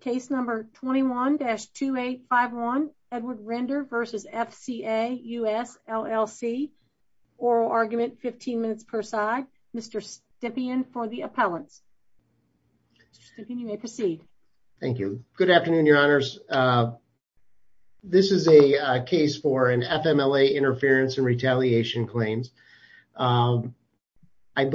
Case number 21-2851 Edward Render versus FCA US LLC. Oral argument 15 minutes per side. Mr. Stippian for the appellants. You may proceed. Thank you. Good afternoon your honors. This is a case for an FMLA interference and retaliation claims. I and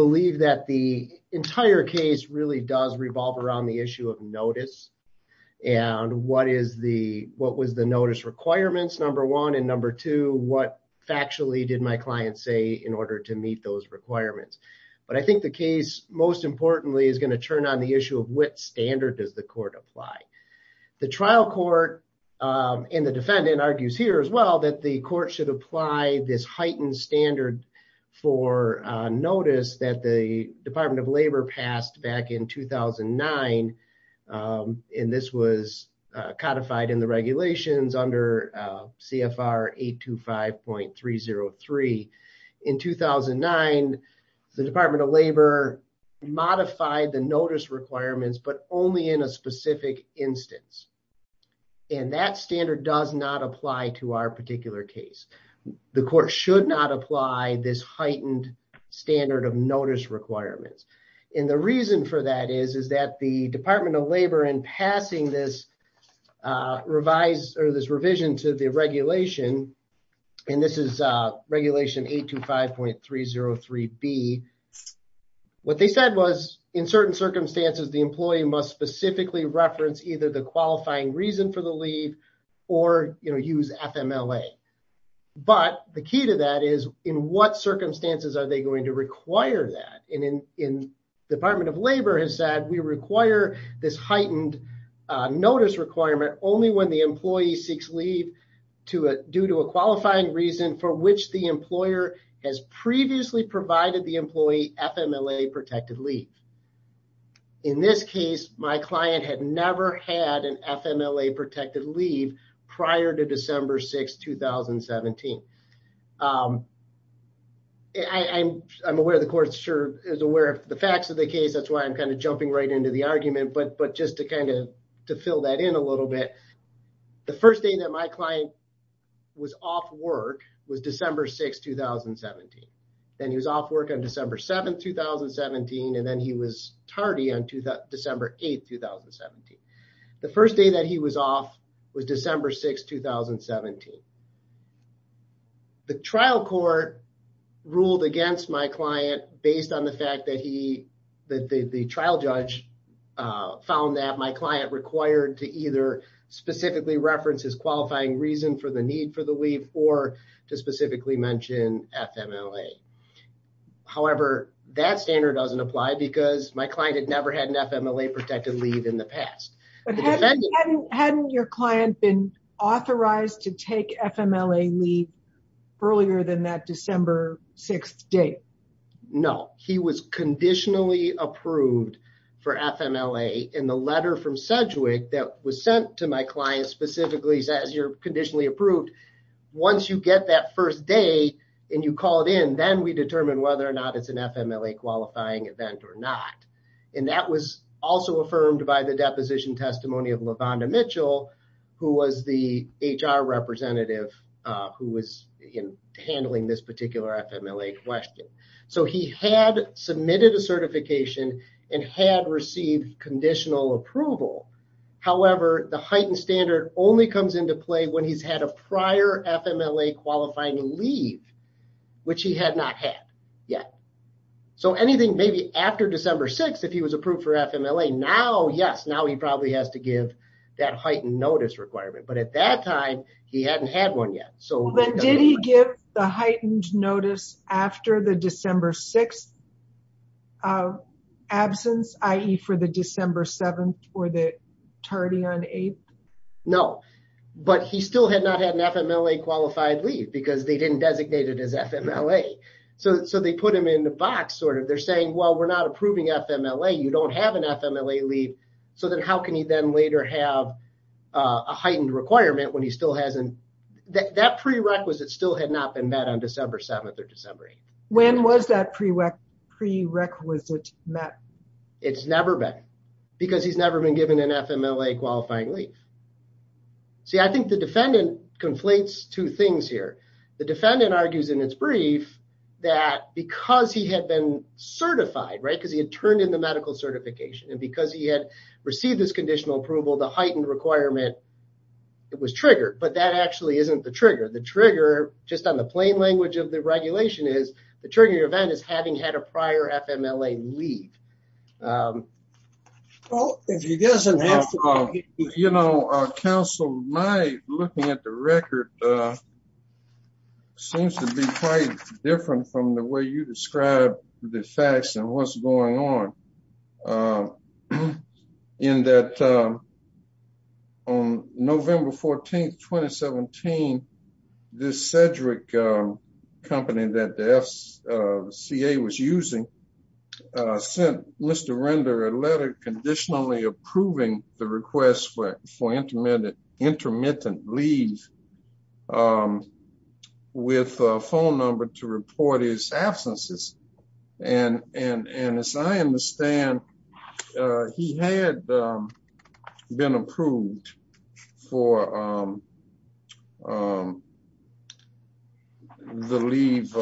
what is the what was the notice requirements number one and number two what factually did my client say in order to meet those requirements. But I think the case most importantly is going to turn on the issue of what standard does the court apply. The trial court and the defendant argues here as well that the court should apply this heightened standard for notice that the Department of Labor passed back in 2009 and this was codified in the regulations under CFR 825.303. In 2009 the Department of Labor modified the notice requirements but only in a specific instance. And that standard does not apply to our particular case. The court should not apply this heightened standard of notice requirements. And the reason for that is is that the Department of Labor in passing this revised or this revision to the regulation and this is regulation 825.303 B. What they said was in certain circumstances the employee must specifically reference either the qualifying reason for the leave or you know use FMLA. But the key to that is in what circumstances are they going to in the Department of Labor has said we require this heightened notice requirement only when the employee seeks leave due to a qualifying reason for which the employer has previously provided the employee FMLA protected leave. In this case my client had never had an FMLA protected leave prior to the fact of the case that's why I'm kind of jumping right into the argument but but just to kind of to fill that in a little bit. The first day that my client was off work was December 6, 2017. Then he was off work on December 7, 2017 and then he was tardy on December 8, 2017. The first day that he was off was that the trial judge found that my client required to either specifically reference his qualifying reason for the need for the leave or to specifically mention FMLA. However that standard doesn't apply because my client had never had an FMLA protected leave in the past. But hadn't your client been authorized to take FMLA leave earlier than that December 6th date? No he was conditionally approved for FMLA in the letter from Sedgwick that was sent to my client specifically says you're conditionally approved. Once you get that first day and you call it in then we determine whether or not it's an FMLA qualifying event or not. And that was also affirmed by the deposition testimony of LaVonda Mitchell who was the HR representative who was handling this particular FMLA question. So he had submitted a certification and had received conditional approval. However the heightened standard only comes into play when he's had a prior FMLA qualifying leave which he had not had yet. So anything maybe after December 6 if he was approved for FMLA now yes now he probably has to give that heightened notice requirement. But at that time he hadn't had one yet. So then did he give the heightened notice after the December 6th absence i.e. for the December 7th or the tardy on 8th? No but he still had not had an FMLA qualified leave because they didn't designate it as FMLA. So they put him in the box sort of they're saying well we're not approving FMLA you don't have an FMLA leave so then how can he then later have a heightened requirement when he still hasn't that prerequisite still had not been met on December 7th or December 8th. When was that prerequisite met? It's never been because he's never been given an FMLA qualifying leave. See I think the defendant conflates two things here. The defendant argues in its brief that because he had been certified right because he had turned in the medical certification and because he had received this conditional approval the it was triggered but that actually isn't the trigger. The trigger just on the plain language of the regulation is the triggering event is having had a prior FMLA leave. Well if he doesn't have to... You know counsel my looking at the record seems to be quite different from the way you described the facts and what's going on in that on November 14th 2017 this Cedric company that the SCA was using sent Mr. Render a letter conditionally approving the request for intermittent leave with a phone number to report his absences and and and as I understand he had been approved for the leave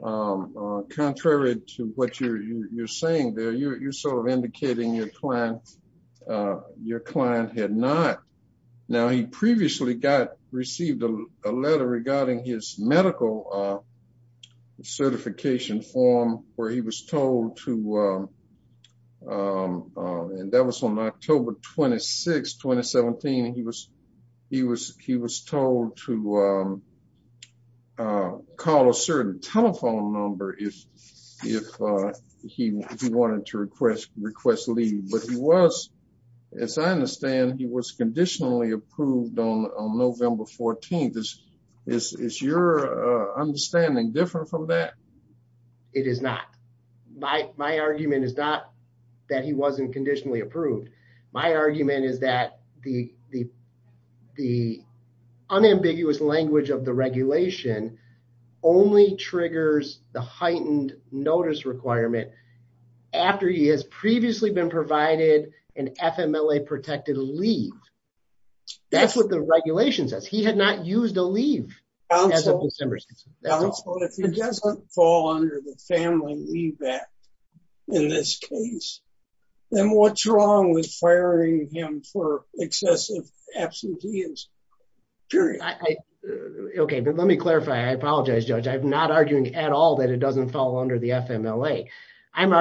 contrary to what you're saying there you're sort of indicating your client your client had not. Now he previously got received a letter regarding his medical certification form where he was told to and that was on October 26 2017 he was he was he was told to call a certain telephone number if if he wanted to request request leave but he was as I understand he was conditionally approved on November 14th. Is your understanding different from that? It is not. My argument is not that he wasn't conditionally approved. My argument is that the the unambiguous language of the regulation only triggers the heightened notice requirement after he has previously been provided an FMLA protected leave. That's what the regulation says. He had not used a leave as of December 16th. If he doesn't fall under the family leave act in this case then what's wrong with firing him for excessive absenteeism period. Okay but let me clarify I apologize judge I'm not arguing at all that it doesn't fall under the FMLA. I'm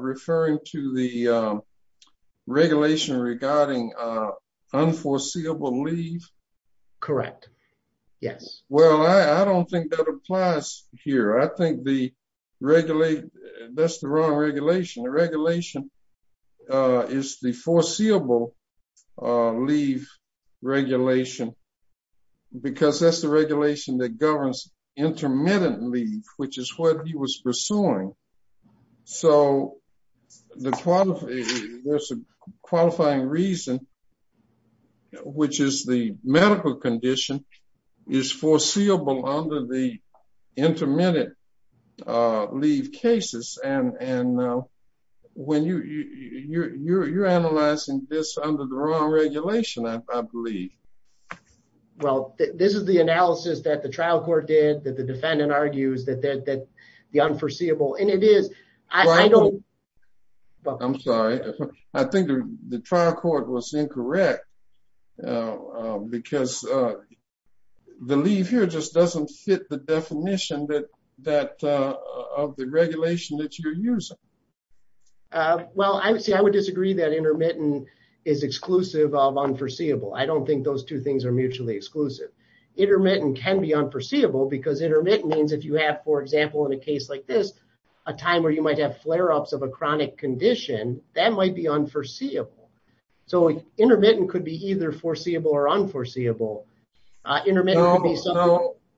referring to the regulation regarding unforeseeable leave. Correct. Yes. Well I don't think that applies here. I think the regulate that's the wrong regulation. The regulation is the foreseeable leave regulation because that's the regulation that governs intermittent leave which is what he was pursuing. So the qualifying reason which is the medical condition is foreseeable under the intermittent leave cases and when you you're analyzing this under the wrong regulation I believe. Well this is the analysis that the trial court did that the defendant argues that the unforeseeable and it is I don't. I'm sorry I think the trial court was incorrect because the leave here just doesn't fit the definition that that of the regulation that you're using. Well I would say I would disagree that intermittent is exclusive of unforeseeable. I don't think those two things are mutually exclusive. Intermittent can be unforeseeable because intermittent means if you have for example in a case like this a time where you might have flare-ups of a chronic condition that might be unforeseeable. So intermittent could be either foreseeable or unforeseeable.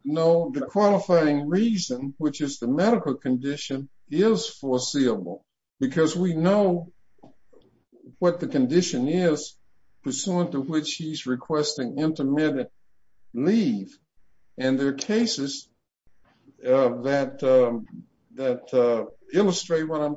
No the qualifying reason which is the medical condition is foreseeable because we know what the condition is pursuant to which he's requesting intermittent leave and there are cases that that illustrate what I'm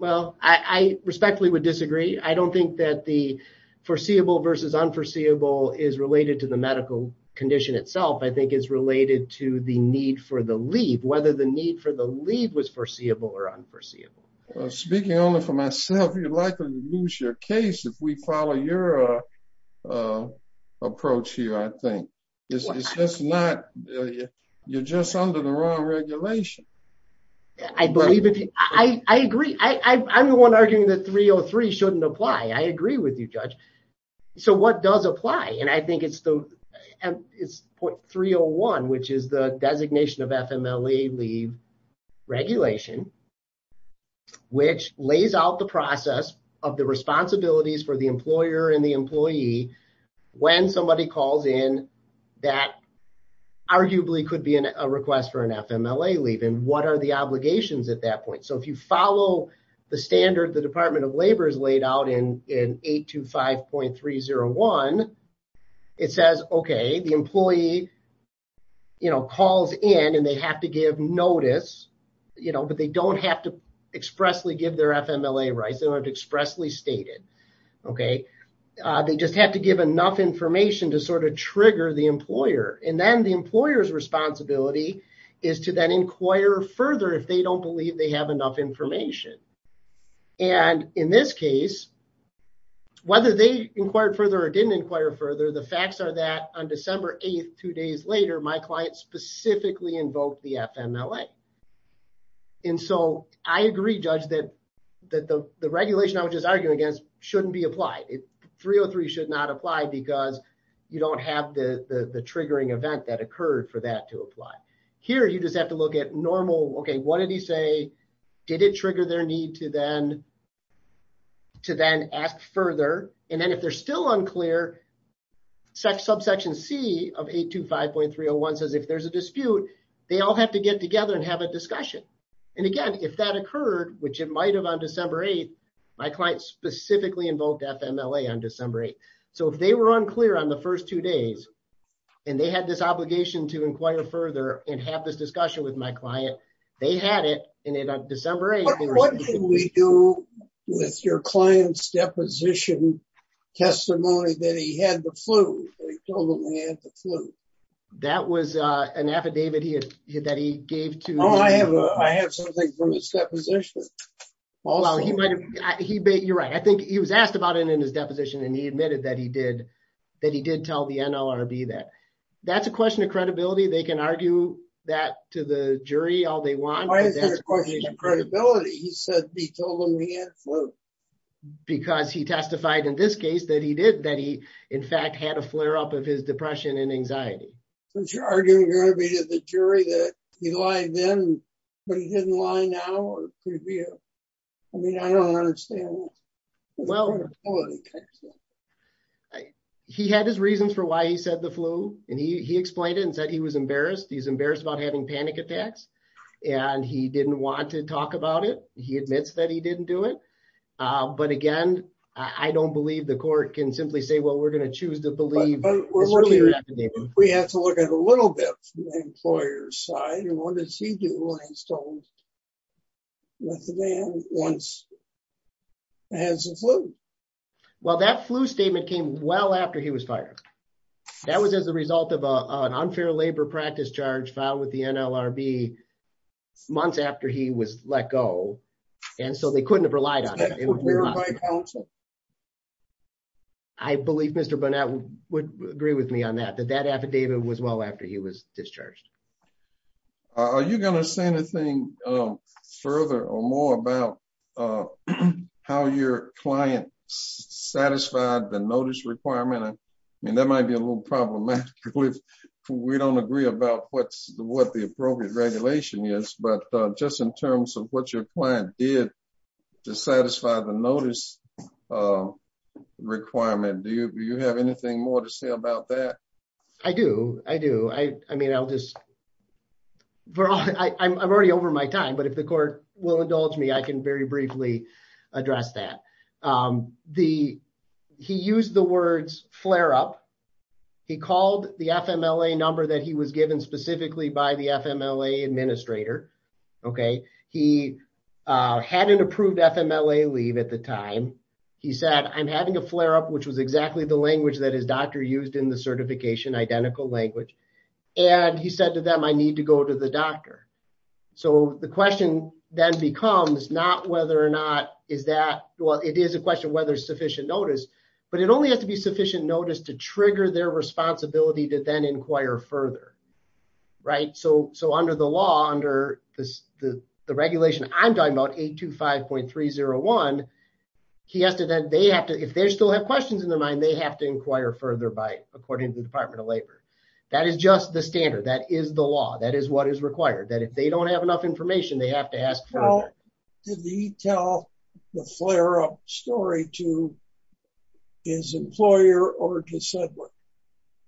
Well I respectfully would disagree. I don't think that the foreseeable versus unforeseeable is related to the medical condition itself. I think it's related to the need for the leave whether the need for the leave was foreseeable or unforeseeable. Speaking only for myself you're likely to lose your case if we follow your approach here I think. It's just not you're just under the wrong regulation. I believe it I agree I I'm the one arguing that 303 shouldn't apply. I agree with you judge. So what does apply and I think it's the and it's point 301 which is the designation of FMLE leave regulation which lays out the process of the responsibilities for the employer and the employee when somebody calls in that arguably could be in a request for an FMLE leave and what are the obligations at that point so if you follow the standard the Department of Labor is laid out in in 825.301 it says okay the employee you know calls in and they have to give notice you know but they don't have to expressly give their FMLE rights they don't expressly stated okay they just have to give enough information to sort of trigger the employer and then the employers responsibility is to then inquire further if they don't believe they have enough information and in this case whether they inquired further or didn't inquire further the facts are that on December 8th two days later my client specifically invoked the FMLA and so I agree judge that that the regulation I just argued against shouldn't be applied it 303 should not apply because you don't have the the triggering event that occurred for that to apply here you just have to look at normal okay what did he say did it trigger their need to then to then ask further and then if they're still unclear such subsection C of 825.301 says if there's a dispute they all have to get together and have a discussion and again if that occurred which it might have on December 8th my client specifically invoked FMLA on December 8th so if they were unclear on the first two days and they had this obligation to inquire further and have this discussion with my client they had it in it on December 8th what can we do with your clients deposition testimony that he had the you're right I think he was asked about it in his deposition and he admitted that he did that he did tell the NLRB that that's a question of credibility they can argue that to the jury all they want credibility he said because he testified in this case that he did that he in fact had a flare-up of his depression and anxiety since you're arguing you're gonna be to the jury that he lied then but he didn't lie now I mean I don't understand well he had his reasons for why he said the flu and he explained it and said he was embarrassed he's embarrassed about having panic attacks and he didn't want to talk about it he admits that he didn't do it but again I don't believe the court can simply say well we're gonna choose to believe we have to look at a little bit employers side and what does he do when he's told that the man once has a flu well that flu statement came well after he was fired that was as a result of an unfair labor practice charge filed with the NLRB months after he was let go and so they couldn't have relied on it I believe mr. Burnett would agree with me that that affidavit was well after he was discharged are you gonna say anything further or more about how your client satisfied the notice requirement I mean that might be a little problematic we don't agree about what's the what the appropriate regulation is but just in terms of what your client did to satisfy the notice requirement do you have anything more to say about that I do I do I I mean I'll just but I'm already over my time but if the court will indulge me I can very briefly address that the he used the words flare-up he called the FM LA number that he was given specifically by the FM LA administrator okay he had an approved FM LA leave at the time he said I'm having a flare-up which was exactly the language that his doctor used in the certification identical language and he said to them I need to go to the doctor so the question then becomes not whether or not is that well it is a question whether sufficient notice but it only has to be sufficient notice to trigger their responsibility to then inquire further right so so under the law under this the regulation I'm talking about eight two five point three zero one he has to then they have to if they still have questions in their mind they have to inquire further by according to the Department of Labor that is just the standard that is the law that is what is required that if they don't have enough information they have to ask for the detail the flare-up story to his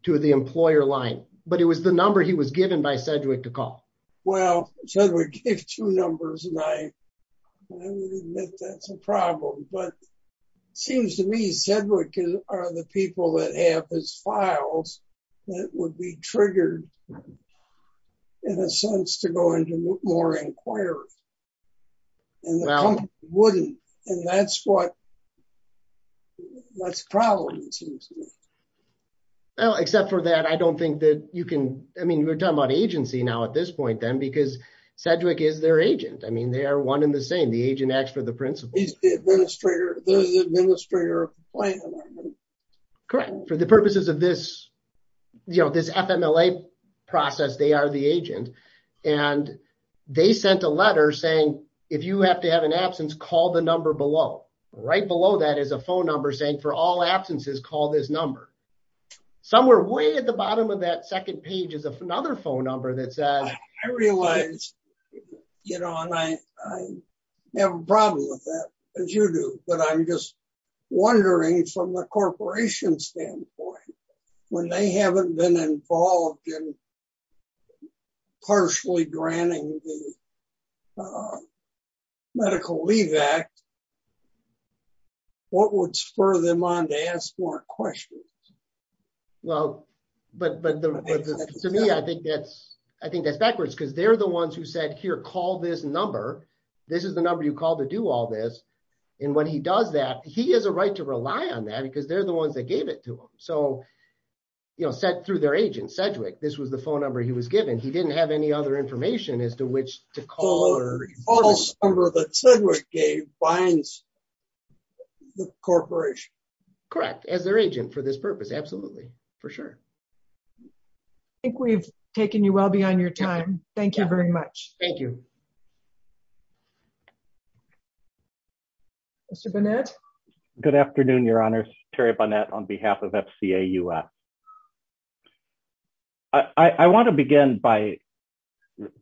to the employer line but it was the number he was given by Cedric to call well if two numbers and I admit that's a problem but seems to me Cedric are the people that have his files that would be triggered in a sense to go into more wouldn't and that's what that's probably well except for that I don't think that you can I mean we're talking about agency now at this point then because Cedric is their agent I mean they are one in the same the agent acts for the principal correct for the purposes of this you know this FMLA process they are the agent and they sent a letter saying if you have to have an absence call the number below right below that is a phone number saying for all absences call this number somewhere way at the bottom of that second page is a another phone number that says I realize you know and I have a problem with that as you do but I'm just wondering from the corporation standpoint when they haven't been involved in partially granting the Medical Leave Act what would spur them on to ask more questions well but but to me I think that's I think that's backwards because they're the ones who said here call this number this is the number you call to do all this and when he does that he has a right to rely on that because they're the ones that gave it to him so you know said through their agent Cedric this was the phone number he was given he didn't have any other information as to which to call or the corporation correct as their agent for this purpose absolutely for sure I think we've taken you well beyond your time thank you very much thank you mr. Burnett good afternoon your honor Terry Burnett on behalf of FCA you I I want to begin by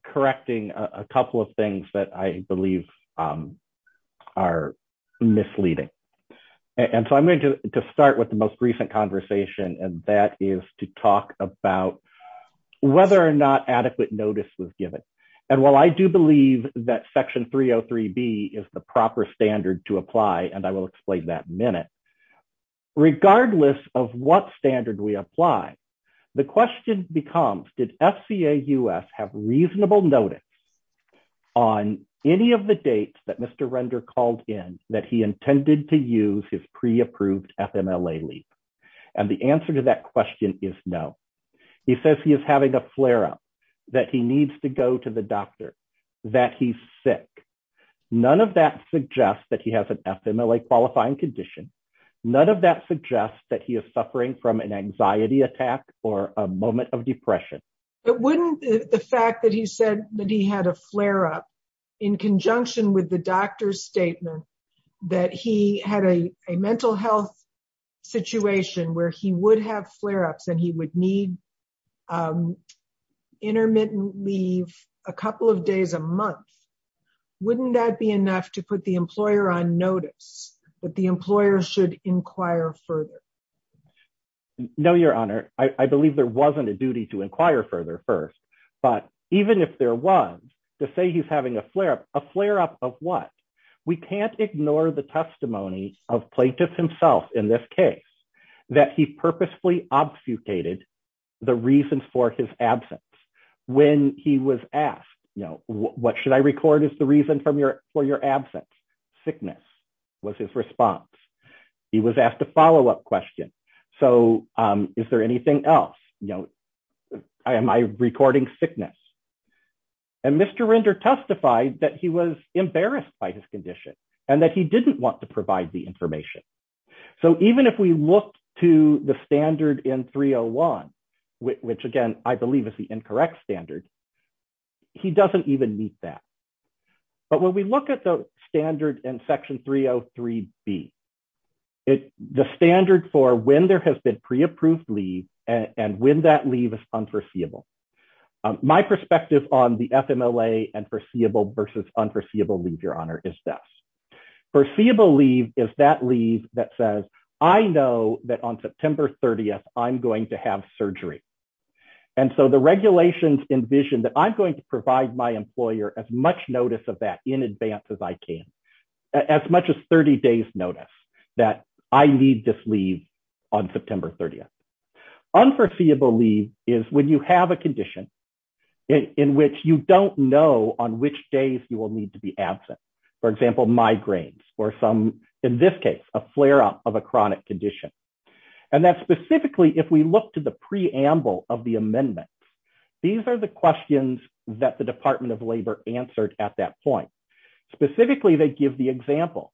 correcting a couple of things that I believe are misleading and so I'm going to start with the most recent conversation and that is to talk about whether or not adequate notice was given and while I do believe that section 303 B is the proper standard to regardless of what standard we apply the question becomes did FCA US have reasonable notice on any of the dates that mr. render called in that he intended to use his pre-approved FMLA leave and the answer to that question is no he says he is having a flare-up that he needs to go to the doctor that he's sick none of that suggests that he has an FMLA qualifying condition none of that suggests that he is suffering from an anxiety attack or a moment of depression but wouldn't the fact that he said that he had a flare-up in conjunction with the doctor's statement that he had a mental health situation where he would have flare-ups and he would need intermittent leave a couple of days a month wouldn't that be enough to put the employer on notice but the no your honor I believe there wasn't a duty to inquire further first but even if there was to say he's having a flare-up a flare-up of what we can't ignore the testimony of plaintiffs himself in this case that he purposefully obfuscated the reasons for his absence when he was asked you know what should I record is the reason from your for your absence sickness was his response he was asked a follow-up question so is there anything else you know I am I recording sickness and mr. render testified that he was embarrassed by his condition and that he didn't want to provide the information so even if we look to the standard in 301 which again I believe is the incorrect standard he doesn't even meet that but when we look at the standard in section 303 be it the standard for when there has been pre-approved leave and when that leave is unforeseeable my perspective on the FMLA and foreseeable versus unforeseeable leave your honor is this foreseeable leave is that leave that says I know that on September 30th I'm going to have surgery and so the employer as much notice of that in advance as I can as much as 30 days notice that I need this leave on September 30th unforeseeable leave is when you have a condition in which you don't know on which days you will need to be absent for example migraines or some in this case a flare-up of a chronic condition and that specifically if we look to the preamble of the amendment these are the questions that the Department of Labor answered at that point specifically they give the example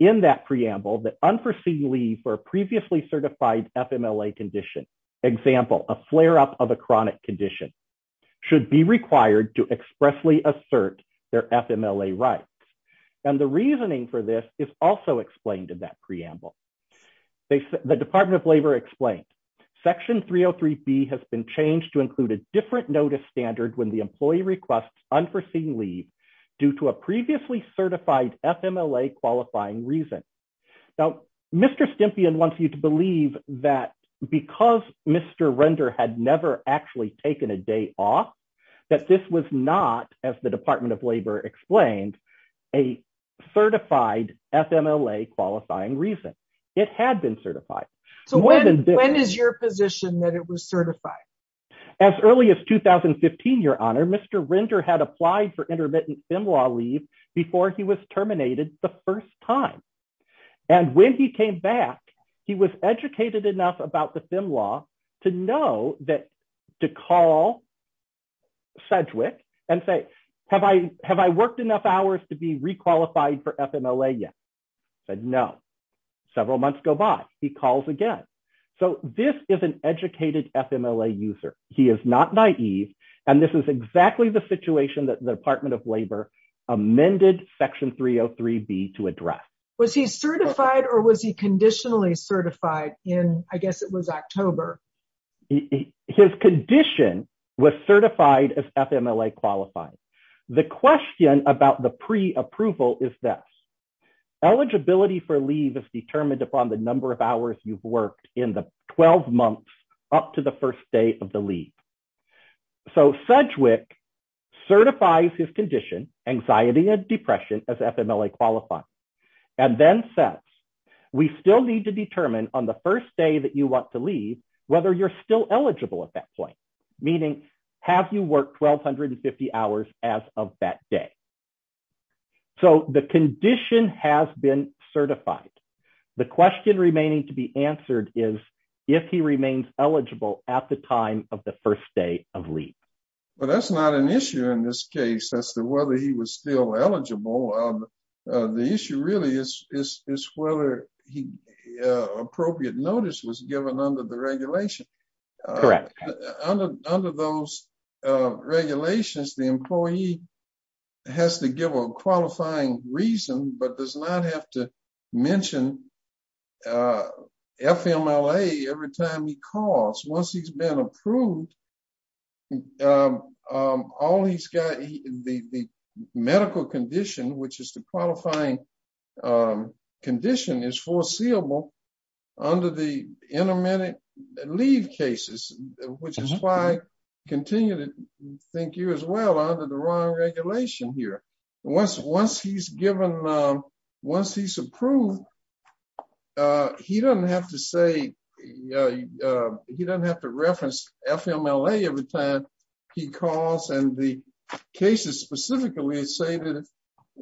in that preamble that unforeseeable leave for a previously certified FMLA condition example a flare-up of a chronic condition should be required to expressly assert their FMLA rights and the reasoning for this is also explained in that preamble the Department of Labor explained section 303 B has been changed to include a different notice standard when the employee requests unforeseen leave due to a previously certified FMLA qualifying reason now mr. Stimpy and wants you to believe that because mr. render had never actually taken a day off that this was not as the Department of Labor explained a certified FMLA qualifying reason it had been certified so when is your position that it was certified as early as 2015 your honor mr. render had applied for intermittent FIM law leave before he was terminated the first time and when he came back he was educated enough about the FIM law to know that to call Sedgwick and say have I have I worked enough hours to be requalified for FMLA yet said no several months go by he calls again so this is an educated FMLA user he is not naive and this is exactly the situation that the Department of Labor amended section 303 B to address was he certified or was he conditionally certified in I guess it was October his condition was certified as FMLA qualified the question about the pre approval is this eligibility for leave is determined upon the number of hours you've worked in the 12 months up to the first day of the leave so Sedgwick certifies his condition anxiety and depression as FMLA qualified and then sets we still need to determine on the first day that you want to leave whether you're still eligible at that point meaning have you worked 1,250 hours as of that day so the condition has been certified the question remaining to be answered is if he remains eligible at the time of the first day of leave well that's not an issue in this case that's the whether he was still eligible the issue really is is whether he appropriate notice was given under the regulation correct under those regulations the employee has to give a qualifying reason but does not have to mention FMLA every time he calls once he's been approved all he's got the medical condition which is the leave cases which is why continue to think you as well under the wrong regulation here once once he's given once he's approved he doesn't have to say he doesn't have to reference FMLA every time he calls and the cases specifically say that if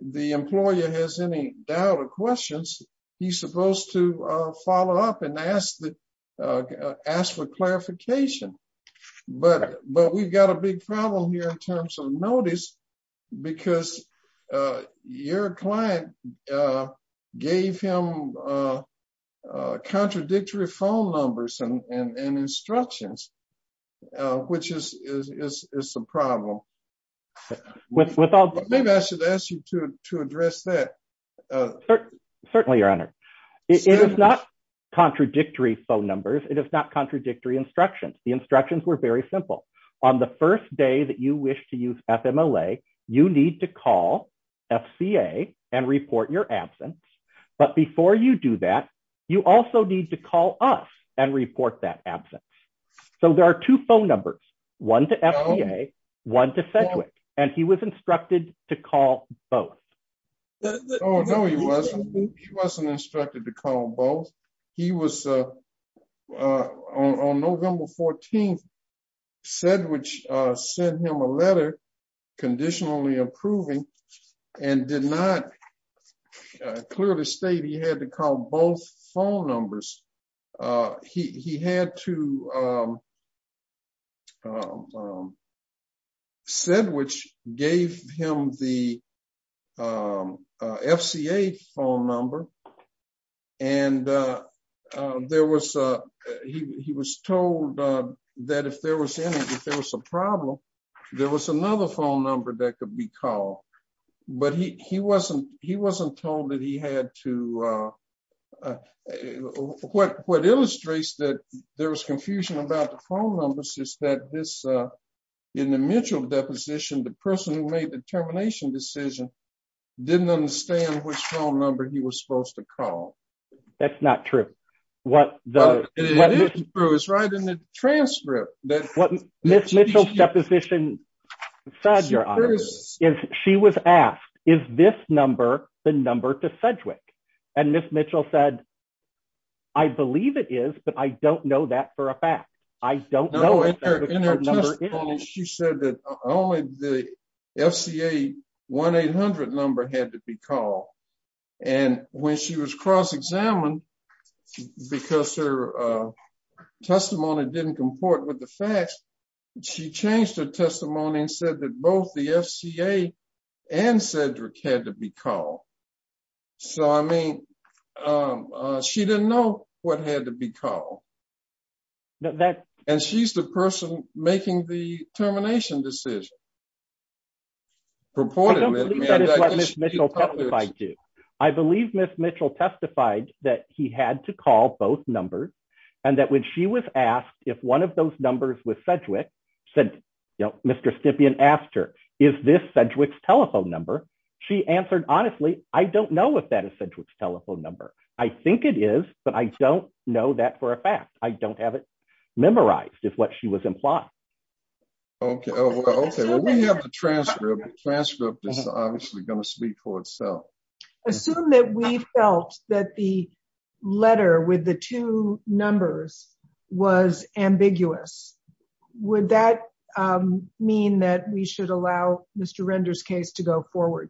the employer has any doubt or questions he's supposed to follow up and ask that ask for clarification but but we've got a big problem here in terms of notice because your client gave him contradictory phone numbers and instructions which is a problem with without maybe I should ask you to address that certainly your honor it is not contradictory phone numbers it is not contradictory instructions the instructions were very simple on the first day that you wish to use FMLA you need to call FCA and report your absence but before you do that you also need to call us and report that absence so there are two phone numbers one to FCA one to Sedgwick and he was instructed to call both he was on November 14th said which sent him a letter conditionally approving and did not clearly state he had to call both phone numbers he had to said which gave him the FCA phone number and there was he was told that if there was any if there was a problem there was another phone number that could be but he wasn't he wasn't told that he had to what what illustrates that there was confusion about the phone numbers is that this in the Mitchell deposition the person who made the termination decision didn't understand which phone number he was supposed to call that's not true what is right in the transcript that position is she was asked is this number the number to Sedgwick and miss Mitchell said I believe it is but I don't know that for a fact I don't know she said that only the FCA 1-800 number had to be called and when she was cross-examined because her testimony didn't comport with the facts she changed her testimony and said that both the FCA and Sedgwick had to be called so I mean she didn't know what had to be called that and she's the person making the termination decision. I believe miss Mitchell testified that he had to call both numbers and that when she was asked if one of those numbers with Sedgwick said you know Mr. Stippian asked her is this Sedgwick's telephone number she answered honestly I don't know if that is Sedgwick's telephone number I think it is but I don't know that for a fact I don't have it memorized is what she was okay well we have the transcript the transcript is obviously going to speak for itself. Assume that we felt that the letter with the two numbers was ambiguous would that mean that we should allow Mr. Render's case to go forward?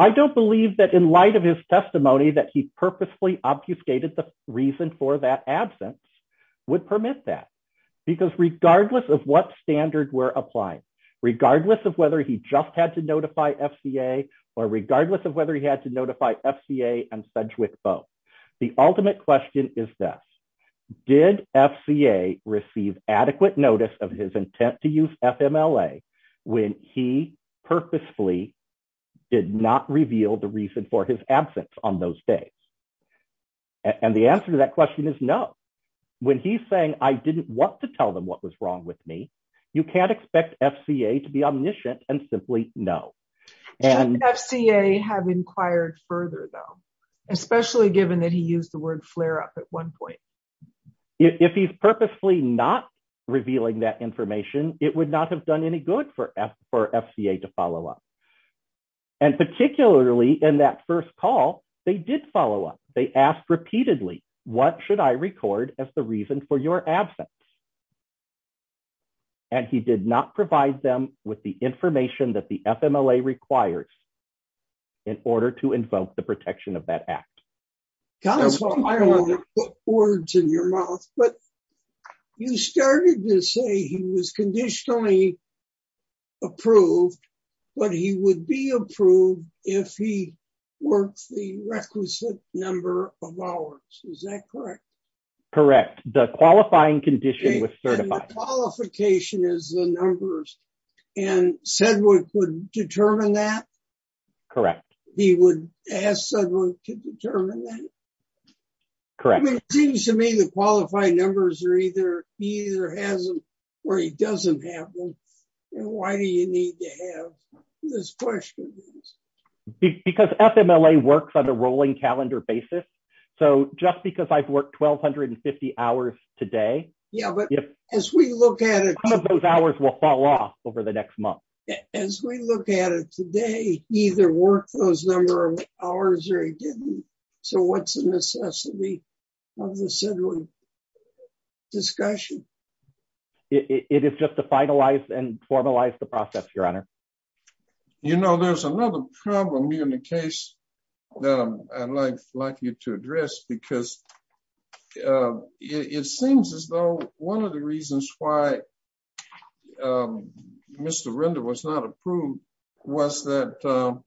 I don't believe that in light of his testimony that he purposely obfuscated the reason for that absence would permit that because regardless of what standard we're applying regardless of whether he just had to notify FCA or regardless of whether he had to notify FCA and Sedgwick both the ultimate question is this did FCA receive adequate notice of his intent to use FMLA when he the answer to that question is no when he's saying I didn't want to tell them what was wrong with me you can't expect FCA to be omniscient and simply no FCA have inquired further though especially given that he used the word flare-up at one point if he's purposely not revealing that information it would not have done any good for FCA to follow up and particularly in that first call they did follow up they asked repeatedly what should I record as the reason for your absence and he did not provide them with the information that the FMLA requires in order to invoke the protection of that act. Counselor I don't want to put words in your mouth but you started to say he was requisite number of hours is that correct? Correct the qualifying condition was certified. And the qualification is the numbers and Sedgwick would determine that? Correct. He would ask Sedgwick to determine that? Correct. It seems to me the qualified numbers are either he either has them or he doesn't have them and why do you need to have this question? Because FMLA works on a rolling calendar basis so just because I've worked 1,250 hours today yeah but as we look at it those hours will fall off over the next month. As we look at it today he either worked those number of hours or he didn't so what's the necessity of the Sedgwick discussion? It is just to you know there's another problem in the case that I'd like you to address because it seems as though one of the reasons why Mr. Render was not approved was that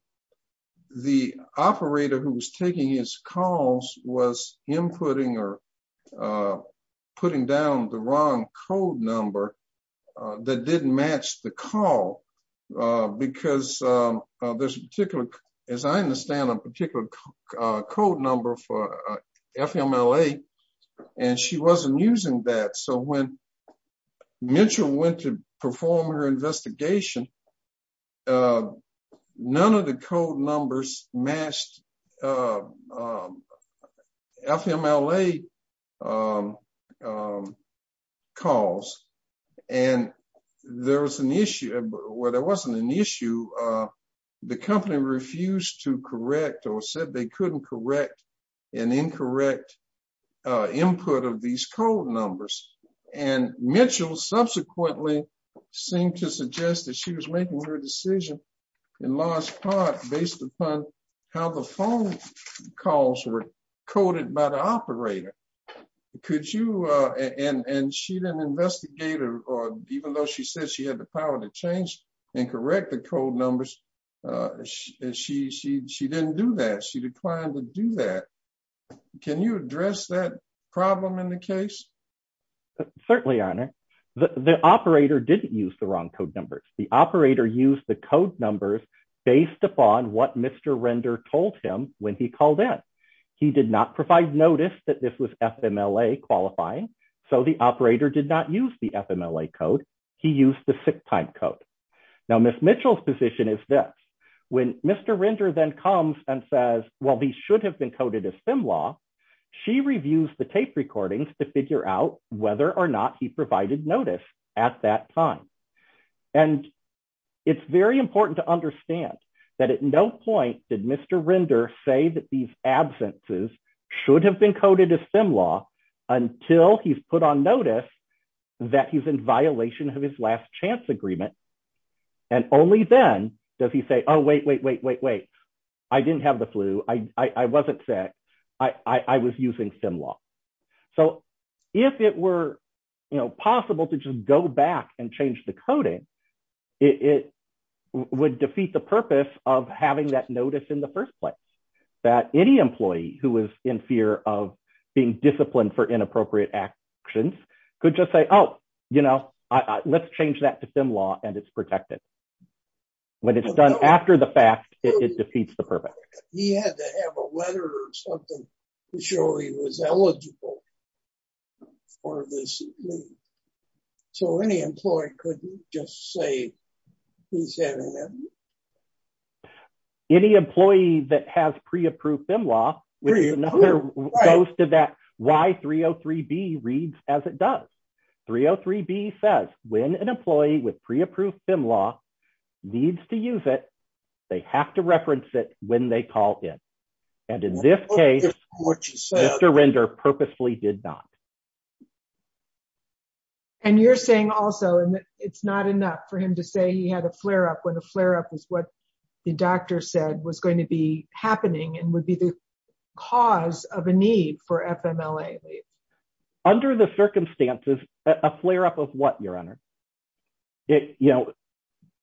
the operator who was taking his calls was inputting or putting down the wrong code number that didn't match the call because there's a particular as I understand a particular code number for FMLA and she wasn't using that so when Mitchell went to perform her investigation none of the code numbers matched FMLA calls and there was an issue where there wasn't an issue the company refused to correct or said they couldn't correct an incorrect input of these code numbers and Mitchell subsequently seemed to suggest that she was making her decision in large part based upon how the phone calls were coded by the operator could you and and she didn't investigate or even though she said she had the power to change and correct the code numbers she she she didn't do that she declined to do that can you address that problem in the case certainly on it the operator didn't use the wrong code numbers the operator used the code numbers based upon what mr. render told him when he called in he did not provide notice that this was FMLA qualifying so the operator did not use the FMLA code he used the sick time code now miss Mitchell's position is this when mr. render then comes and says well these should have been coded a sim law she reviews the tape recordings to figure out whether or not he provided notice at that time and it's very important to understand that at no point did mr. render say that these absences should have been coded a sim law until he's put on notice that he's in violation of his last chance agreement and only then does he say oh wait wait wait wait wait I didn't have the flu I wasn't sick I I was using sim law so if it were you know possible to just go back and change the coding it would defeat the purpose of having that notice in the first place that any employee who is in fear of being disciplined for inappropriate actions could just say oh you know I let's change that to sim law and it's protected when it's done after the fact it defeats the purpose any employee that has pre-approved them law which goes to that why 303 B reads as it does 303 B says when an employee with pre-approved them law needs to use it they have to reference it when they call in and in this case mr. render purposefully did not and you're saying also and it's not enough for him to say he had a flare-up when the flare-up is what the doctor said was going to be happening and would be the cause of a need for FMLA under the circumstances a flare-up of what your honor it you know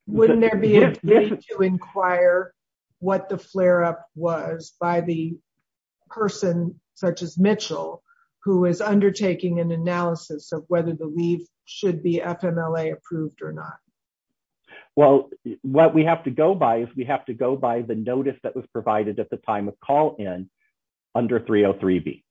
wouldn't there be a way to inquire what the flare-up was by the person such as Mitchell who is undertaking an analysis of whether the leave should be FMLA approved or not well what we have to go by if we have to go by the notice that was provided at the time of call in under 303 B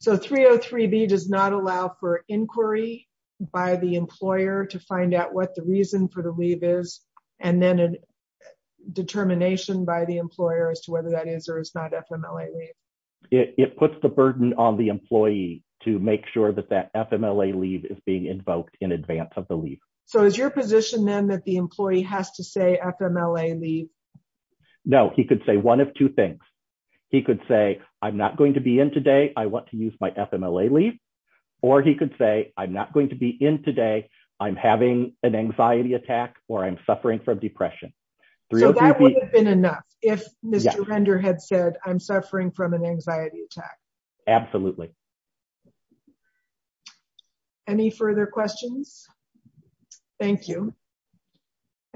so 303 B does not allow for inquiry by the employer to find out what the reason for the leave is and then a determination by the employer as to whether that is or is not FMLA it puts the burden on the employee to make sure that that FMLA leave is being invoked in advance of the leave so is your position that the employee has to say FMLA leave no he could say one of two things he could say I'm not going to be in today I want to use my FMLA leave or he could say I'm not going to be in today I'm having an anxiety attack or I'm suffering from depression enough if mr. render had said I'm suffering from an I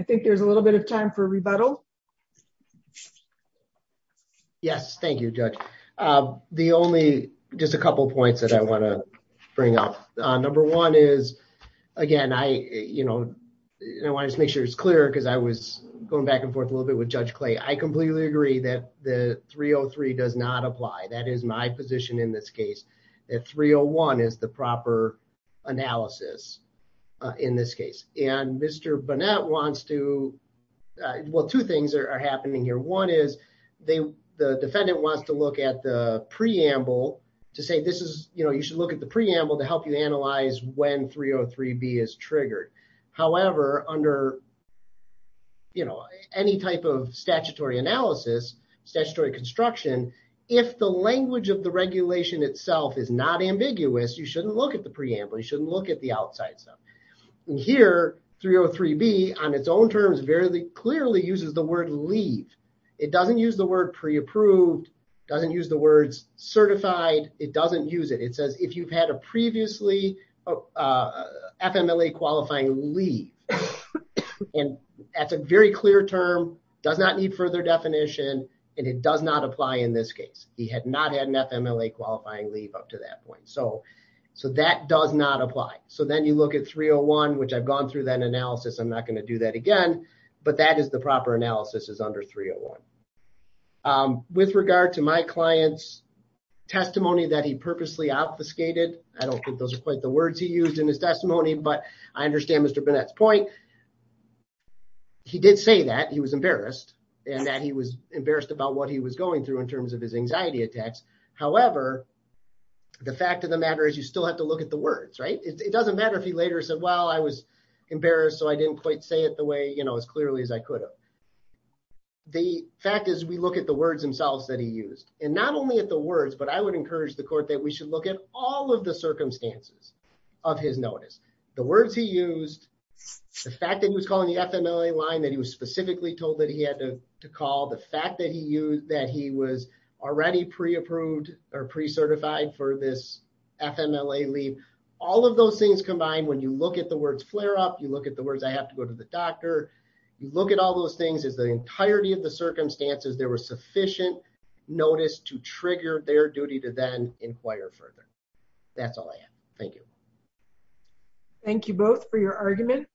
think there's a little bit of time for rebuttal yes thank you judge the only just a couple points that I want to bring up number one is again I you know I want to make sure it's clear because I was going back and forth a little bit with judge clay I completely agree that the 303 does not apply that is my position in this case at 301 is the proper analysis in this case and mr. Burnett wants to well two things are happening here one is they the defendant wants to look at the preamble to say this is you know you should look at the preamble to help you analyze when 303 B is triggered however under you know any type of statutory analysis statutory construction if the language of the regulation itself is not ambiguous you shouldn't look at the preamble you look at the outside stuff here 303 B on its own terms very clearly uses the word leave it doesn't use the word pre-approved doesn't use the words certified it doesn't use it it says if you've had a previously FMLA qualifying leave and that's a very clear term does not need further definition and it does not apply in this case he had not had an FMLA qualifying leave up to that point so so that does not apply so then you look at 301 which I've gone through that analysis I'm not going to do that again but that is the proper analysis is under 301 with regard to my clients testimony that he purposely obfuscated I don't think those are quite the words he used in his testimony but I understand mr. Burnett's point he did say that he was embarrassed and that he was embarrassed about what he was going through in terms of his anxiety attacks however the fact of the matter is you still have to look at the words right it doesn't matter if he later said well I was embarrassed so I didn't quite say it the way you know as clearly as I could have the fact is we look at the words themselves that he used and not only at the words but I would encourage the court that we should look at all of the circumstances of his notice the words he used the fact that he was calling the FMLA line that he was specifically told that he had to call the fact that he used that he was already pre-approved or pre-certified for this FMLA leave all of those things combined when you look at the words flare-up you look at the words I have to go to the doctor you look at all those things is the entirety of the circumstances there were sufficient notice to trigger their duty to then inquire further that's all I am thank you thank you both for your argument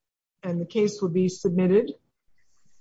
and the case will be submitted